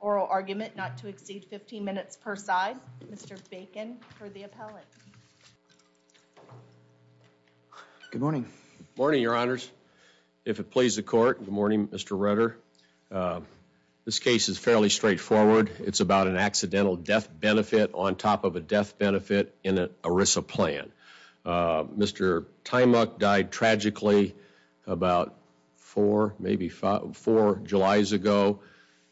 oral argument not to exceed 15 minutes per side. Mr. Bacon for the appellate. Good morning. Morning your honors. If it please the court. Good morning Mr. Rutter. This case is fairly straightforward. It's about an accidental death benefit on top of a death Mr. Time up died tragically about four maybe five four July's ago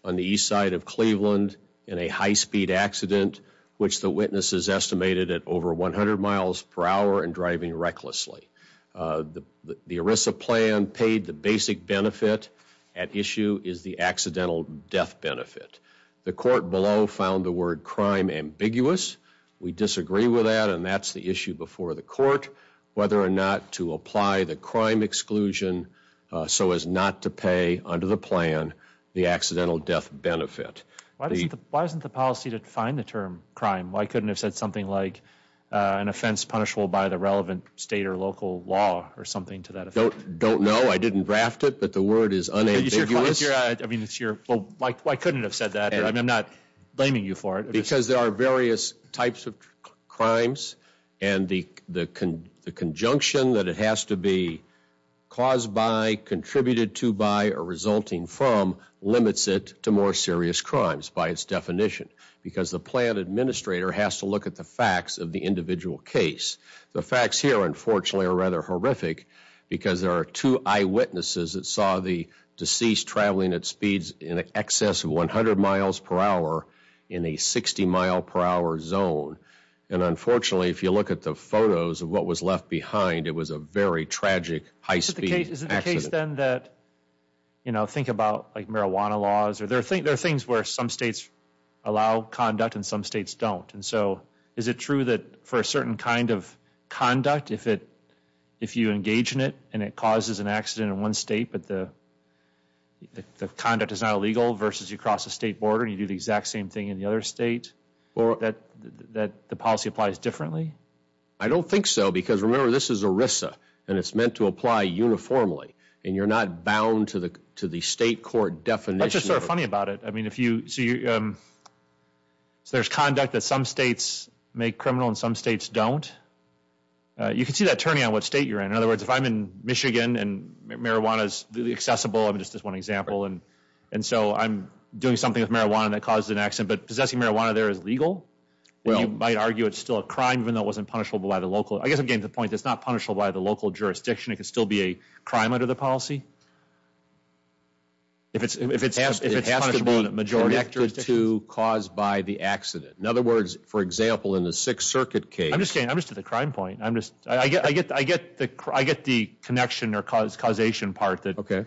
on the east side of Cleveland in a high-speed accident which the witnesses estimated at over 100 miles per hour and driving recklessly. The ERISA plan paid the basic benefit at issue is the accidental death benefit. The court below found the word crime ambiguous. We disagree with that and that's the issue before the court whether or not to apply the crime exclusion so as not to pay under the plan the accidental death benefit. Why isn't the policy to define the term crime? Why couldn't have said something like an offense punishable by the relevant state or local law or something to that effect? Don't know. I didn't draft it but the word is unambiguous. I mean it's your well why couldn't have said that? I mean I'm not blaming you for it. Because there are various types of crimes and the conjunction that it has to be caused by, contributed to by, or resulting from limits it to more serious crimes by its definition. Because the plan administrator has to look at the facts of the individual case. The facts here unfortunately are rather horrific because there are two eyewitnesses that saw the deceased traveling at speeds in excess of 100 miles per hour in a 60 mile per hour zone. And unfortunately if you look at the photos of what was left behind it was a very tragic high speed accident. Is it the case then that you know think about like marijuana laws or there are things where some states allow conduct and some states don't. And so is it true that for a certain kind of conduct is not illegal versus you cross the state border and you do the exact same thing in the other state or that that the policy applies differently? I don't think so because remember this is ERISA and it's meant to apply uniformly and you're not bound to the to the state court definition. That's just sort of funny about it. I mean if you see um so there's conduct that some states make criminal and some states don't. You can see that turning on what state you're in. In other and so I'm doing something with marijuana that causes an accident but possessing marijuana there is legal. Well you might argue it's still a crime even though it wasn't punishable by the local. I guess I'm getting the point that's not punishable by the local jurisdiction. It could still be a crime under the policy. If it's if it's if it has to be a majority to cause by the accident. In other words for example in the Sixth Circuit case. I'm just saying I'm just at the crime point. I'm just I get I get I get the I get the connection or cause causation part that. Okay.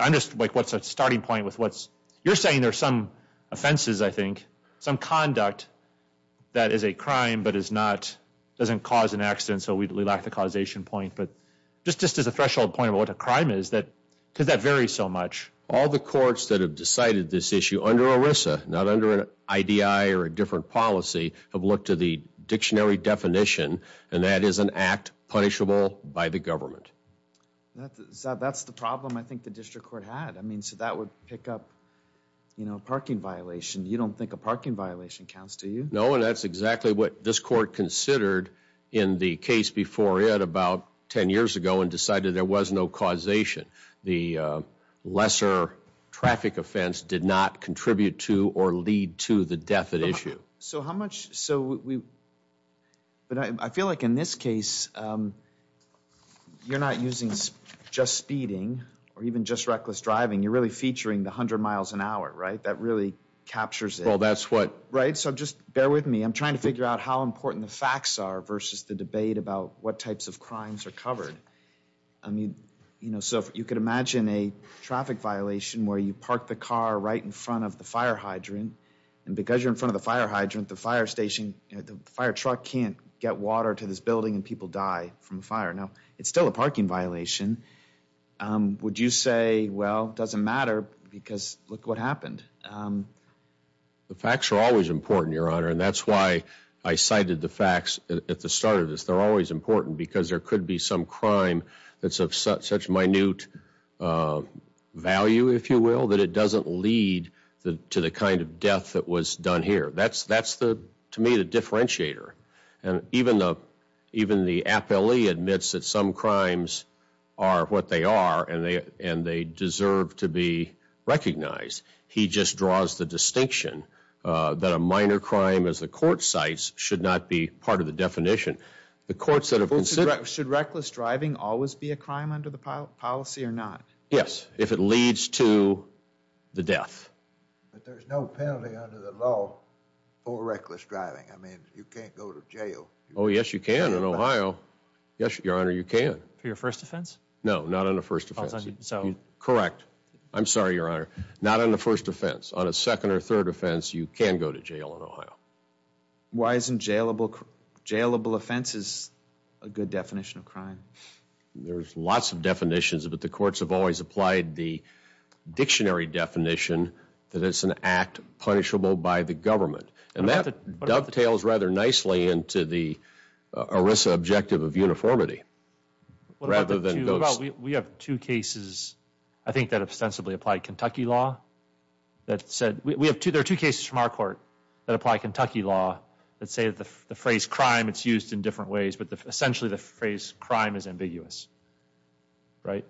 I'm just like what's a starting point with what's you're saying there's some offenses I think. Some conduct that is a crime but is not doesn't cause an accident so we lack the causation point. But just just as a threshold point about what a crime is that because that varies so much. All the courts that have decided this issue under ERISA not under an IDI or a different policy have looked to the dictionary definition and that is an act punishable by the government. That's that's the problem I think the district court had. I mean so that would pick up you know a parking violation. You don't think a parking violation counts do you? No and that's exactly what this court considered in the case before it about 10 years ago and decided there was no causation. The lesser traffic offense did not contribute to or lead to the death at issue. So how much so we but I feel like in this case you're not using just speeding or even just reckless driving. You're really featuring the 100 miles an hour right that really captures it. Well that's what. Right so just bear with me I'm trying to figure out how important the facts are versus the debate about what types of crimes are covered. I mean you know so you could imagine a traffic violation where you park the car right in front of the fire hydrant and because you're in front of the fire hydrant the fire station the fire truck can't get water to this building and people die from fire. Now it's still a parking violation. Would you say well it doesn't matter because look what happened. The facts are always important your honor and that's why I cited the facts at the start of this. They're always important because there could be some crime that's of such such minute value if you will that it doesn't lead to the kind of death that was done here. That's that's the to me the differentiator and even the even the appellee admits that some crimes are what they are and they and they deserve to be recognized. He just draws the distinction that a minor crime as the court cites should not be part of the definition. The courts that have considered. Should reckless driving always be a crime under policy or not? Yes if it leads to the death. But there's no penalty under the law for reckless driving. I mean you can't go to jail. Oh yes you can in Ohio. Yes your honor you can. For your first offense? No not on the first offense. Correct. I'm sorry your honor. Not on the first offense. On a second or third offense you can go to jail in Ohio. Why isn't jailable jailable offense is a good definition of crime. There's lots of definitions but the courts have always applied the dictionary definition that it's an act punishable by the government and that dovetails rather nicely into the ERISA objective of uniformity rather than. We have two cases I think that ostensibly apply Kentucky law that said we have two there are two cases from our that apply Kentucky law that say the phrase crime it's used in different ways but essentially the phrase crime is ambiguous. Right?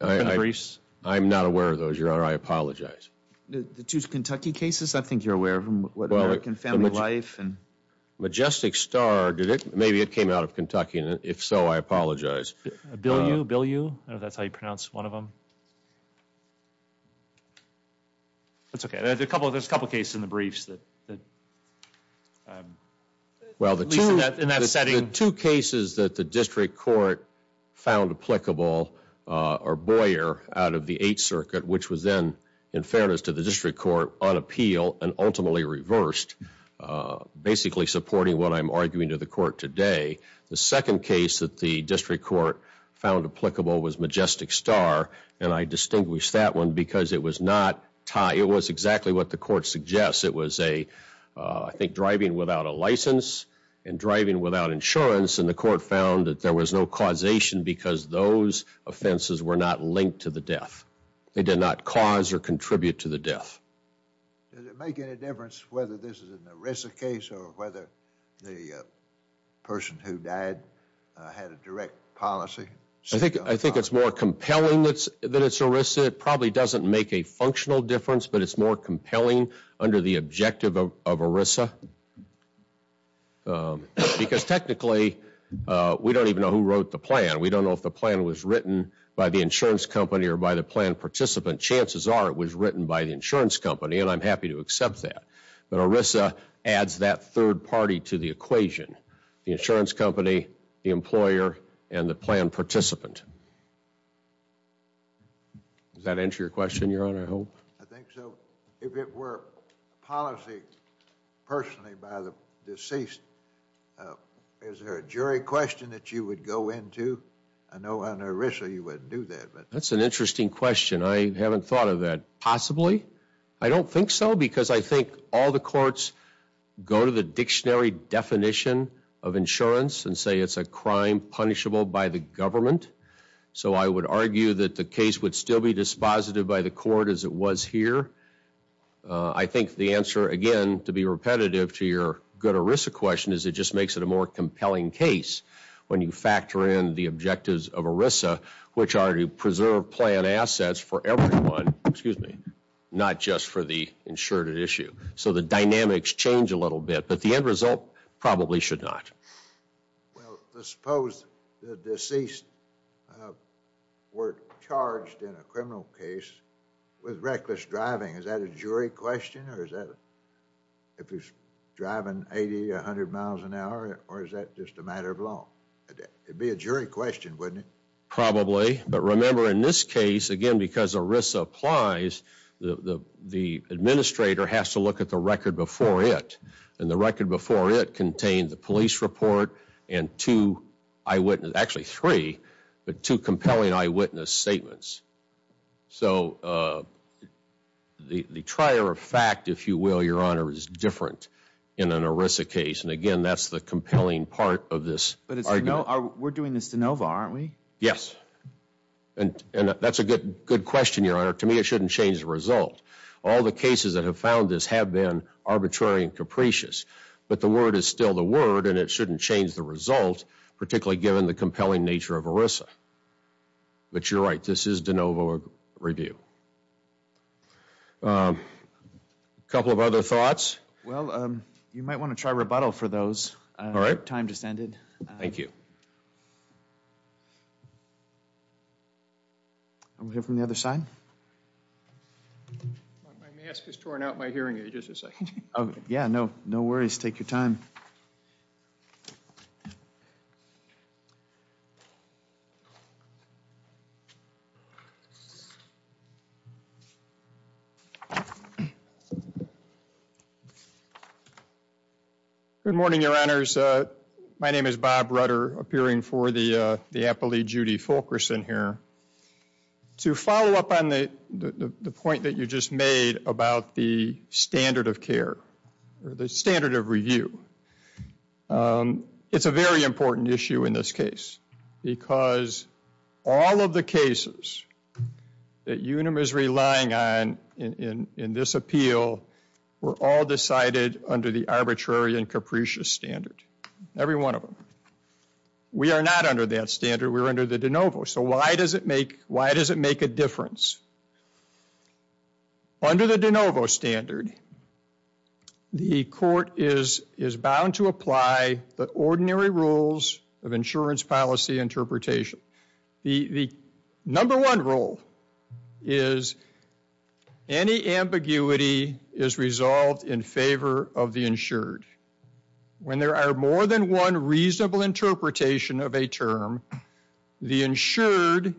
I'm not aware of those your honor. I apologize. The two Kentucky cases I think you're aware of them. American family life and majestic star did it maybe it came out of Kentucky and if so I apologize. Bill you Bill you that's how you pronounce one of them. That's okay there's a couple there's a couple cases in the briefs that well the two in that setting two cases that the district court found applicable or Boyer out of the eighth circuit which was then in fairness to the district court on appeal and ultimately reversed basically supporting what I'm arguing to the court today. The second case that the district court found applicable was majestic star and I distinguish that one because it was not tie it was exactly what the court suggests it was a I think driving without a license and driving without insurance and the court found that there was no causation because those offenses were not linked to the death. They did not cause or contribute to the death. Does it make any direct policy? I think I think it's more compelling that's that it's ERISA it probably doesn't make a functional difference but it's more compelling under the objective of ERISA because technically we don't even know who wrote the plan we don't know if the plan was written by the insurance company or by the plan participant chances are it was written by the insurance company and I'm happy to accept that but ERISA adds that third party to the equation the insurance company the employer and the plan participant does that answer your question your honor I hope I think so if it were policy personally by the deceased is there a jury question that you would go into I know under ERISA you wouldn't do that but that's an interesting question I haven't thought of that possibly I don't think so I think all the courts go to the dictionary definition of insurance and say it's a crime punishable by the government so I would argue that the case would still be dispositive by the court as it was here I think the answer again to be repetitive to your good ERISA question is it just makes it a more compelling case when you factor in the objectives of ERISA which are to issue so the dynamics change a little bit but the end result probably should not well let's suppose the deceased were charged in a criminal case with reckless driving is that a jury question or is that if he's driving 80 100 miles an hour or is that just a matter of law it'd be a jury question wouldn't it probably but remember in this case again because ERISA applies the administrator has to look at the record before it and the record before it contained the police report and two eyewitness actually three but two compelling eyewitness statements so the the trier of fact if you will your honor is different in an ERISA case and again that's the compelling part of this but it's no we're doing this de novo aren't we yes and and that's a good good question your honor to me it shouldn't change the result all the cases that have found this have been arbitrary and capricious but the word is still the word and it shouldn't change the result particularly given the compelling nature of ERISA but you're right this is de novo review um a couple of other thoughts well um you might want to try rebuttal for those all right time just ended thank you i'm here from the other side my mask has torn out my hearing aid just a second oh yeah no no worries take your time so good morning your honors uh my name is bob rudder appearing for the uh the appellee judy fulkerson here to follow up on the the point that you just made about the standard of care or the standard of review um it's a very important issue in this case because all of the cases that unum is relying on in in this appeal were all decided under the arbitrary and capricious standard every one of them we are not under that standard we're under the de novo so why does it make why does it make a difference under the de novo standard the court is is bound to apply the ordinary rules of insurance policy interpretation the the number one rule is any ambiguity is resolved in favor of the insured when there are more than one reasonable interpretation of a term the insured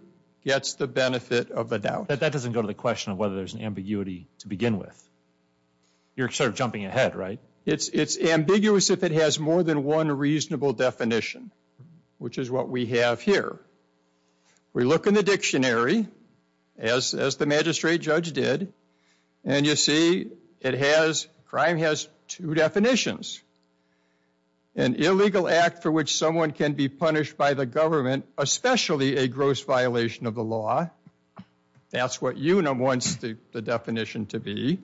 gets the benefit of the doubt that that doesn't go to the question of whether there's an ambiguity to begin with you're sort of jumping ahead right it's it's ambiguous if it has more than one reasonable definition which is what we have here we look in the dictionary as as the magistrate judge did and you see it has crime has two definitions an illegal act for which someone can be punished by the government especially a gross violation of the law that's what you know wants the definition to be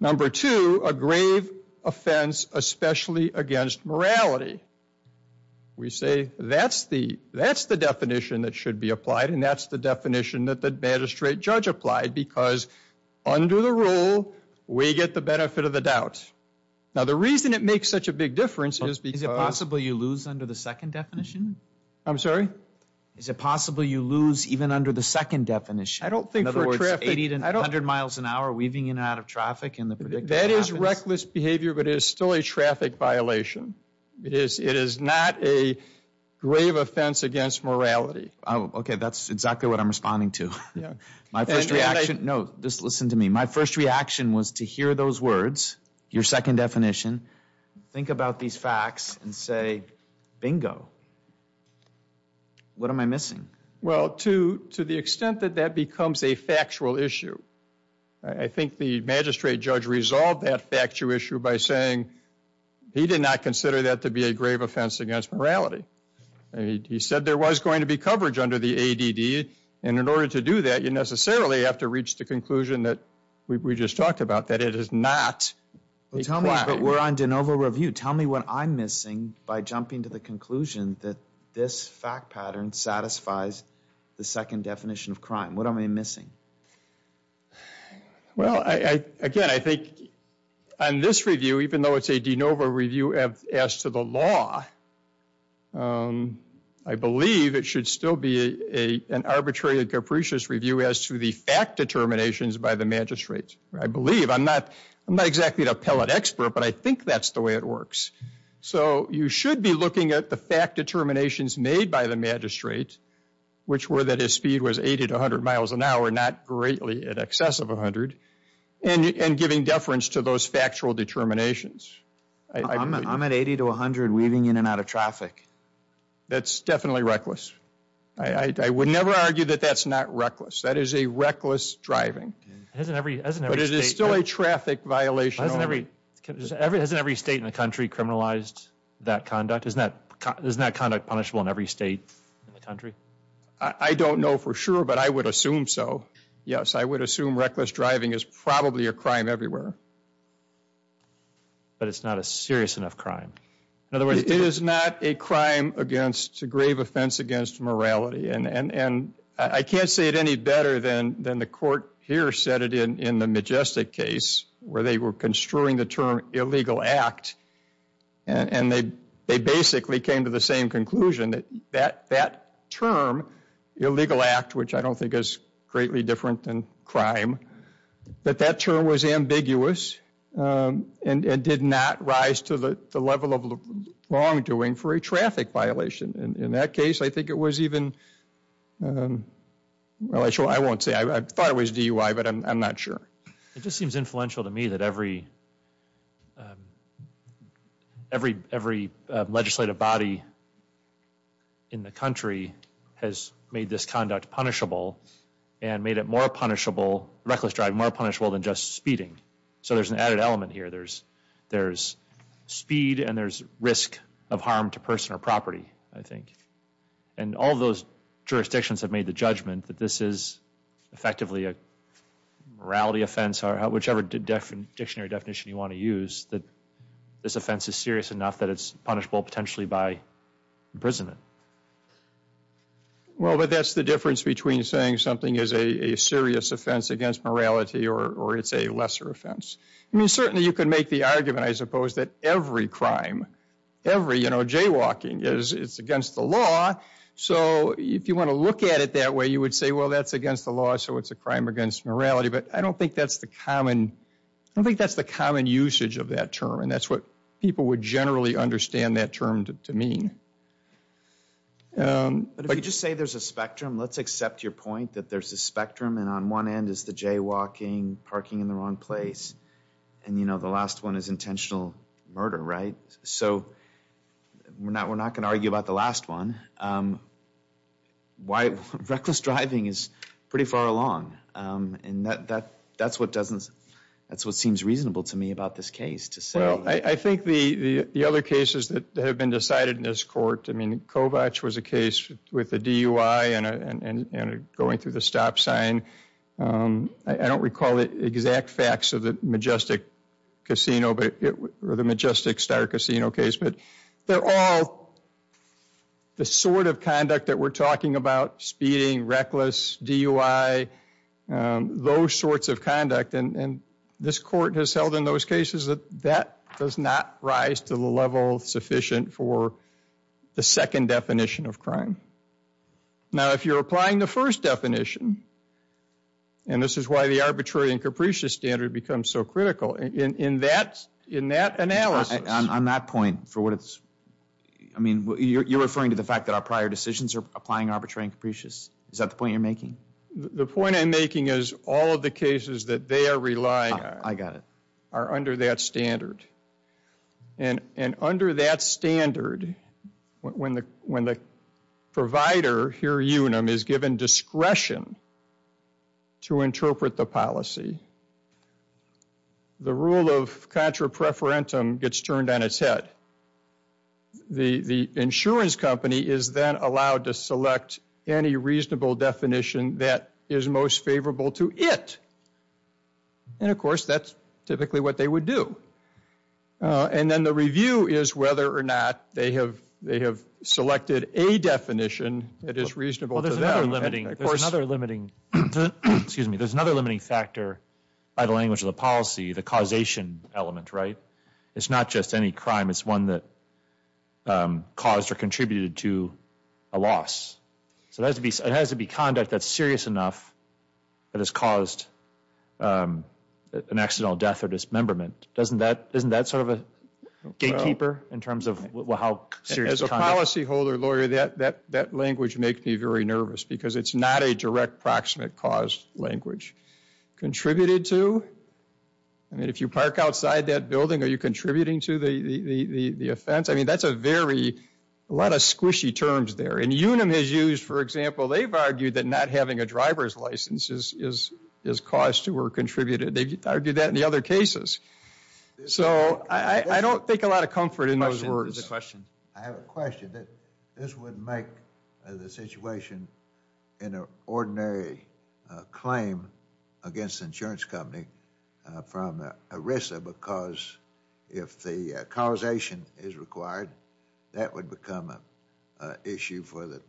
number two a grave offense especially against morality we say that's the that's the definition that should be applied and that's the definition that the magistrate judge applied because under the rule we get the benefit of the doubt now the reason it makes such a big difference is because it's possible you lose under the second definition i'm sorry is it possible you lose even under the second definition i don't think in other words 80 to 100 miles an hour weaving in and out of traffic and that is reckless behavior but it is still a traffic violation it is it is not a grave offense against morality oh okay that's exactly what i'm responding to yeah my first reaction no just listen to me my first reaction was to hear those words your second definition think about these facts and say bingo what am i missing well to to the extent that that becomes a factual issue i think the magistrate judge resolved that factual issue by saying he did not consider that to be a grave offense against morality he said there was going to be coverage under the add and in order to do that you necessarily have to reach the conclusion that we just talked about that it is not well tell me but we're on de novo review tell me what i'm missing by jumping to the conclusion that this fact pattern satisfies the second definition of crime what am i missing well i i again i think on this review even though it's a de novo review of as to the law um i believe it should still be a an arbitrary capricious review as to the fact determinations by the magistrate i believe i'm not i'm not exactly an appellate expert but i think that's the way it works so you should be looking at the fact determinations made by the magistrate which were that his speed was 80 to 100 miles an hour not greatly in excess of 100 and and giving deference to those factual determinations i'm at 80 to 100 weaving in and out of traffic that's definitely reckless i i would never argue that that's not reckless that is a reckless driving hasn't every but it is still a traffic violation every every hasn't every state in the country criminalized that conduct isn't that there's not conduct punishable in every state in the country i don't know for sure but i would assume so yes i would assume reckless driving is probably a crime everywhere but it's not a serious enough crime in other words it is not a crime against a grave offense against morality and and and i can't say it any better than than the court here said it in in the majestic case where they were construing the term illegal act and and they they basically came to the same conclusion that that that term illegal act which i don't think is greatly different than crime but that term was ambiguous um and and did not rise to the level of wrongdoing for a traffic violation in that case i think it was even um well i sure i won't say i thought it was dui but i'm not sure it just seems influential to me that every um every every legislative body in the country has made this conduct punishable and made it more punishable reckless driving more punishable than just speeding so there's an added element here there's there's speed and there's risk of harm to person or property i think and all those jurisdictions have made the judgment that this is effectively a morality offense or whichever different dictionary definition you want to use that this offense is serious enough that it's punishable potentially by imprisonment well but that's the difference between saying something is a serious offense against morality or or it's a lesser offense i mean certainly you could make the argument i suppose that every crime every you know jaywalking is it's against the law so if you want to look at it that way you would say well that's against the law so it's a crime against morality but i don't think that's the common i think that's the common usage of that term and that's what people would generally understand that term to mean um but if you just say there's a spectrum let's accept your point that there's a spectrum and on one end is the jaywalking parking in the wrong place and you know the last one is intentional murder right so we're not we're not going to argue about the last one um why reckless driving is pretty far along um and that that that's what doesn't that's what seems reasonable to me about this case to say well i think the the other cases that have been decided in this court i mean kovach was a case with the dui and and and going through the stop sign um i don't recall the exact facts of the majestic casino but it were the majestic star casino case but they're all the sort of conduct that we're talking about speeding reckless dui those sorts of conduct and and this court has held in those cases that that does not rise to the level sufficient for the second definition of crime now if you're applying the first definition and this is why the arbitrary and capricious standard becomes so critical in in that in that analysis on that point for what it's i mean you're referring to the fact that our prior decisions are applying arbitrary and capricious is that the point you're making the point i'm making is all the cases that they are relying on i got it are under that standard and and under that standard when the when the provider here unum is given discretion to interpret the policy the rule of contra preferentum gets turned on its head the the insurance company is then allowed to to interpret the policy as it is intended to be interpreted and of course that's typically what they would do uh and then the review is whether or not they have they have selected a definition that is reasonable there's another limiting there's another limiting excuse me there's another limiting factor by the language of the policy the causation element right it's not just any crime it's one that um caused or contributed to a loss so it has to be it has to be conduct that's serious enough that has caused um an accidental death or dismemberment doesn't that isn't that sort of a gatekeeper in terms of how serious as a policy holder lawyer that that that language makes me very nervous because it's not a direct proximate cause language contributed to i mean if you park outside that building are you contributing to the the the the offense i mean that's a very a lot of squishy terms there and unum has used for example they've argued that not having a driver's license is is is caused to or contributed they've argued that in the other cases so i i don't think a lot of comfort in those words the question i have a question that this would make the situation in an ordinary claim against the insurance company from erisa because if the causation is required that would become a issue for the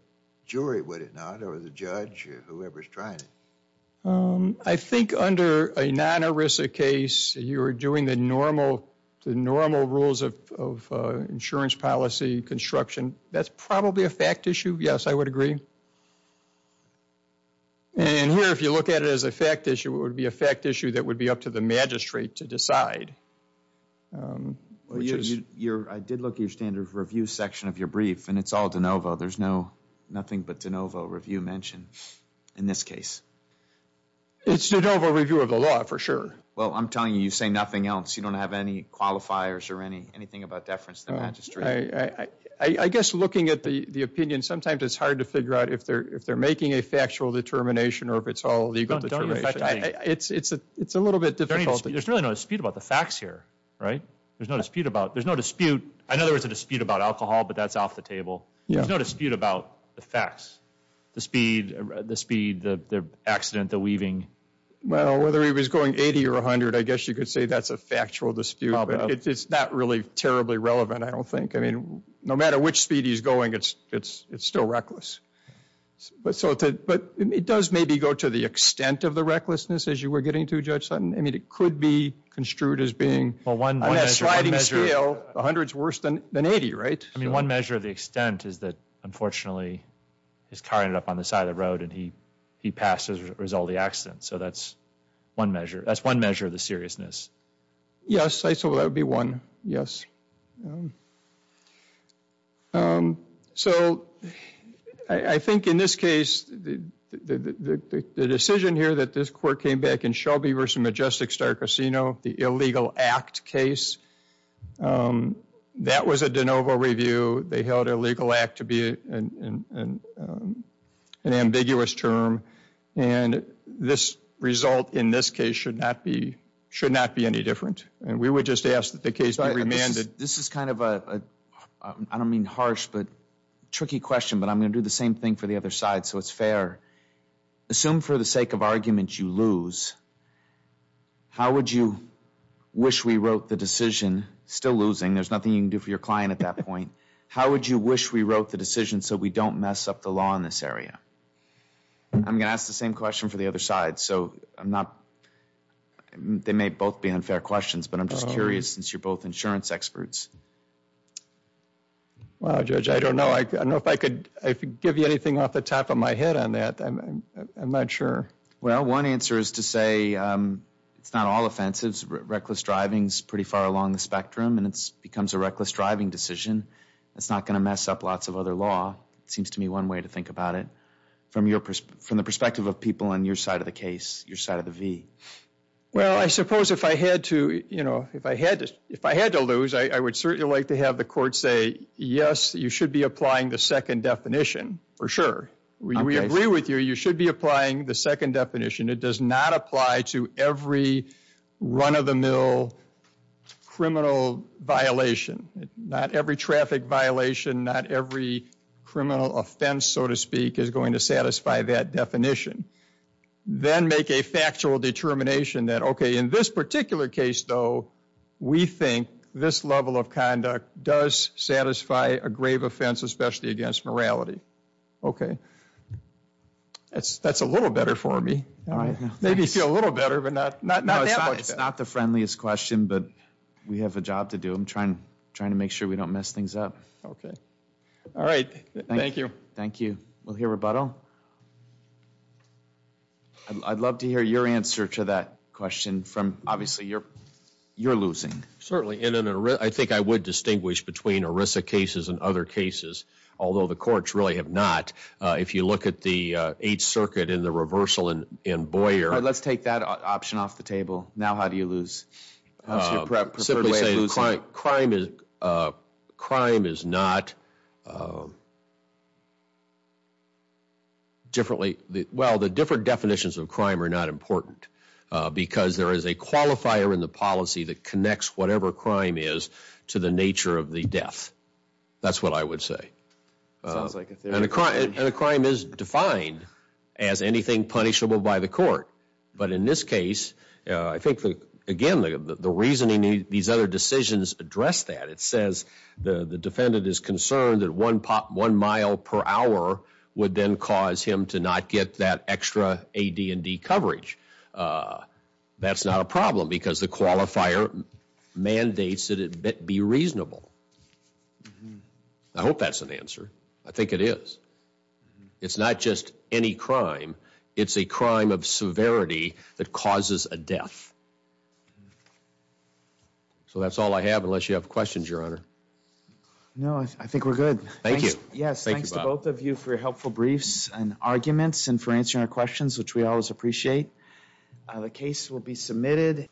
jury would it not or the judge or whoever's trying it um i think under a non-arisa case you're doing the normal the normal rules of of uh insurance policy construction that's probably a fact issue yes i would agree and here if you look at it as a fact issue it would be a fact issue that would be up to the magistrate to decide um you're i did look at your standard review section of your brief and it's all de novo there's no nothing but de novo review mentioned in this case it's de novo review of the law for sure well i'm telling you you say nothing else you don't have any qualifiers or any anything about deference to the magistrate i i i guess looking at the the opinion sometimes it's hard to figure out if they're if they're making a factual determination or if it's all legal it's it's a it's a little bit difficult there's really no dispute about the facts here right there's no dispute about there's no dispute i know there was a dispute about alcohol but that's off the table there's no dispute about the facts the speed the speed the the accident the weaving well whether he was going 80 or 100 i guess you could say that's a factual dispute it's not really terribly relevant i don't think i mean no matter which speed he's going it's it's it's still reckless but so to but it does maybe go to the extent of the recklessness as you were getting to judge sudden i mean it could be construed as being well one sliding scale 100 is worse than than 80 right i mean one measure of unfortunately his car ended up on the side of the road and he he passed as a result of the accident so that's one measure that's one measure of the seriousness yes i thought that would be one yes um so i i think in this case the the the decision here that this court came back in shelby versus majestic star casino the illegal act case um that was a de novo review they held a legal act to be an um an ambiguous term and this result in this case should not be should not be any different and we would just ask that the case be remanded this is kind of a i don't mean harsh but tricky question but i'm going to do the same thing for the other side so it's fair assume for the sake of argument you lose how would you wish we wrote the decision still losing there's nothing you can do for your client at that point how would you wish we wrote the decision so we don't mess up the law in this area i'm going to ask the same question for the other side so i'm not they may both be unfair questions but i'm just curious since you're both insurance experts well judge i don't know i don't know if i could i could give you anything off the top of my head on that i'm i'm not sure well one answer is to say um it's not all offensives reckless driving's pretty far along the spectrum and it's becomes a reckless driving decision it's not going to mess up lots of other law it seems to me one way to think about it from your from the perspective of people on your side of the case your side of the v well i suppose if i had to you know if i had to if i had to lose i would certainly like to have the court say yes you should be applying the second definition for sure we agree with you you should be applying the second definition it does not apply to every run-of-the-mill criminal violation not every traffic violation not every criminal offense so to speak is going to satisfy that definition then make a factual determination that okay in this particular case though we think this level of conduct does satisfy a grave offense especially against morality okay that's that's a little better for me all right maybe feel a little better but not not it's not the friendliest question but we have a job to do i'm trying trying to make sure we don't mess things up okay all right thank you thank you we'll hear rebuttal i'd love to hear your answer to that question from obviously you're you're losing certainly in an i think i would distinguish between orissa cases and other cases although the courts really have not uh if you look at the uh eighth circuit in the reversal in in boyer let's take that option off the table now how do you lose simply saying crime is uh crime is not differently well the different definitions of crime are not important because there is a qualifier in the policy that connects whatever crime is to the nature of the death that's what i would say and a crime and a crime is defined as anything punishable by the court but in this case i think again the the reasoning these other decisions address that it says the the defendant is concerned that one pop one mile per hour would then cause him to not get that extra ad and d coverage uh that's not a problem because the qualifier mandates that it be reasonable i hope that's an answer i think it is it's not just any crime it's a crime of severity that causes a death so that's all i have unless you have questions your honor no i think we're good thank you yes both of you for your helpful briefs and arguments and for answering our questions which we always appreciate the case will be submitted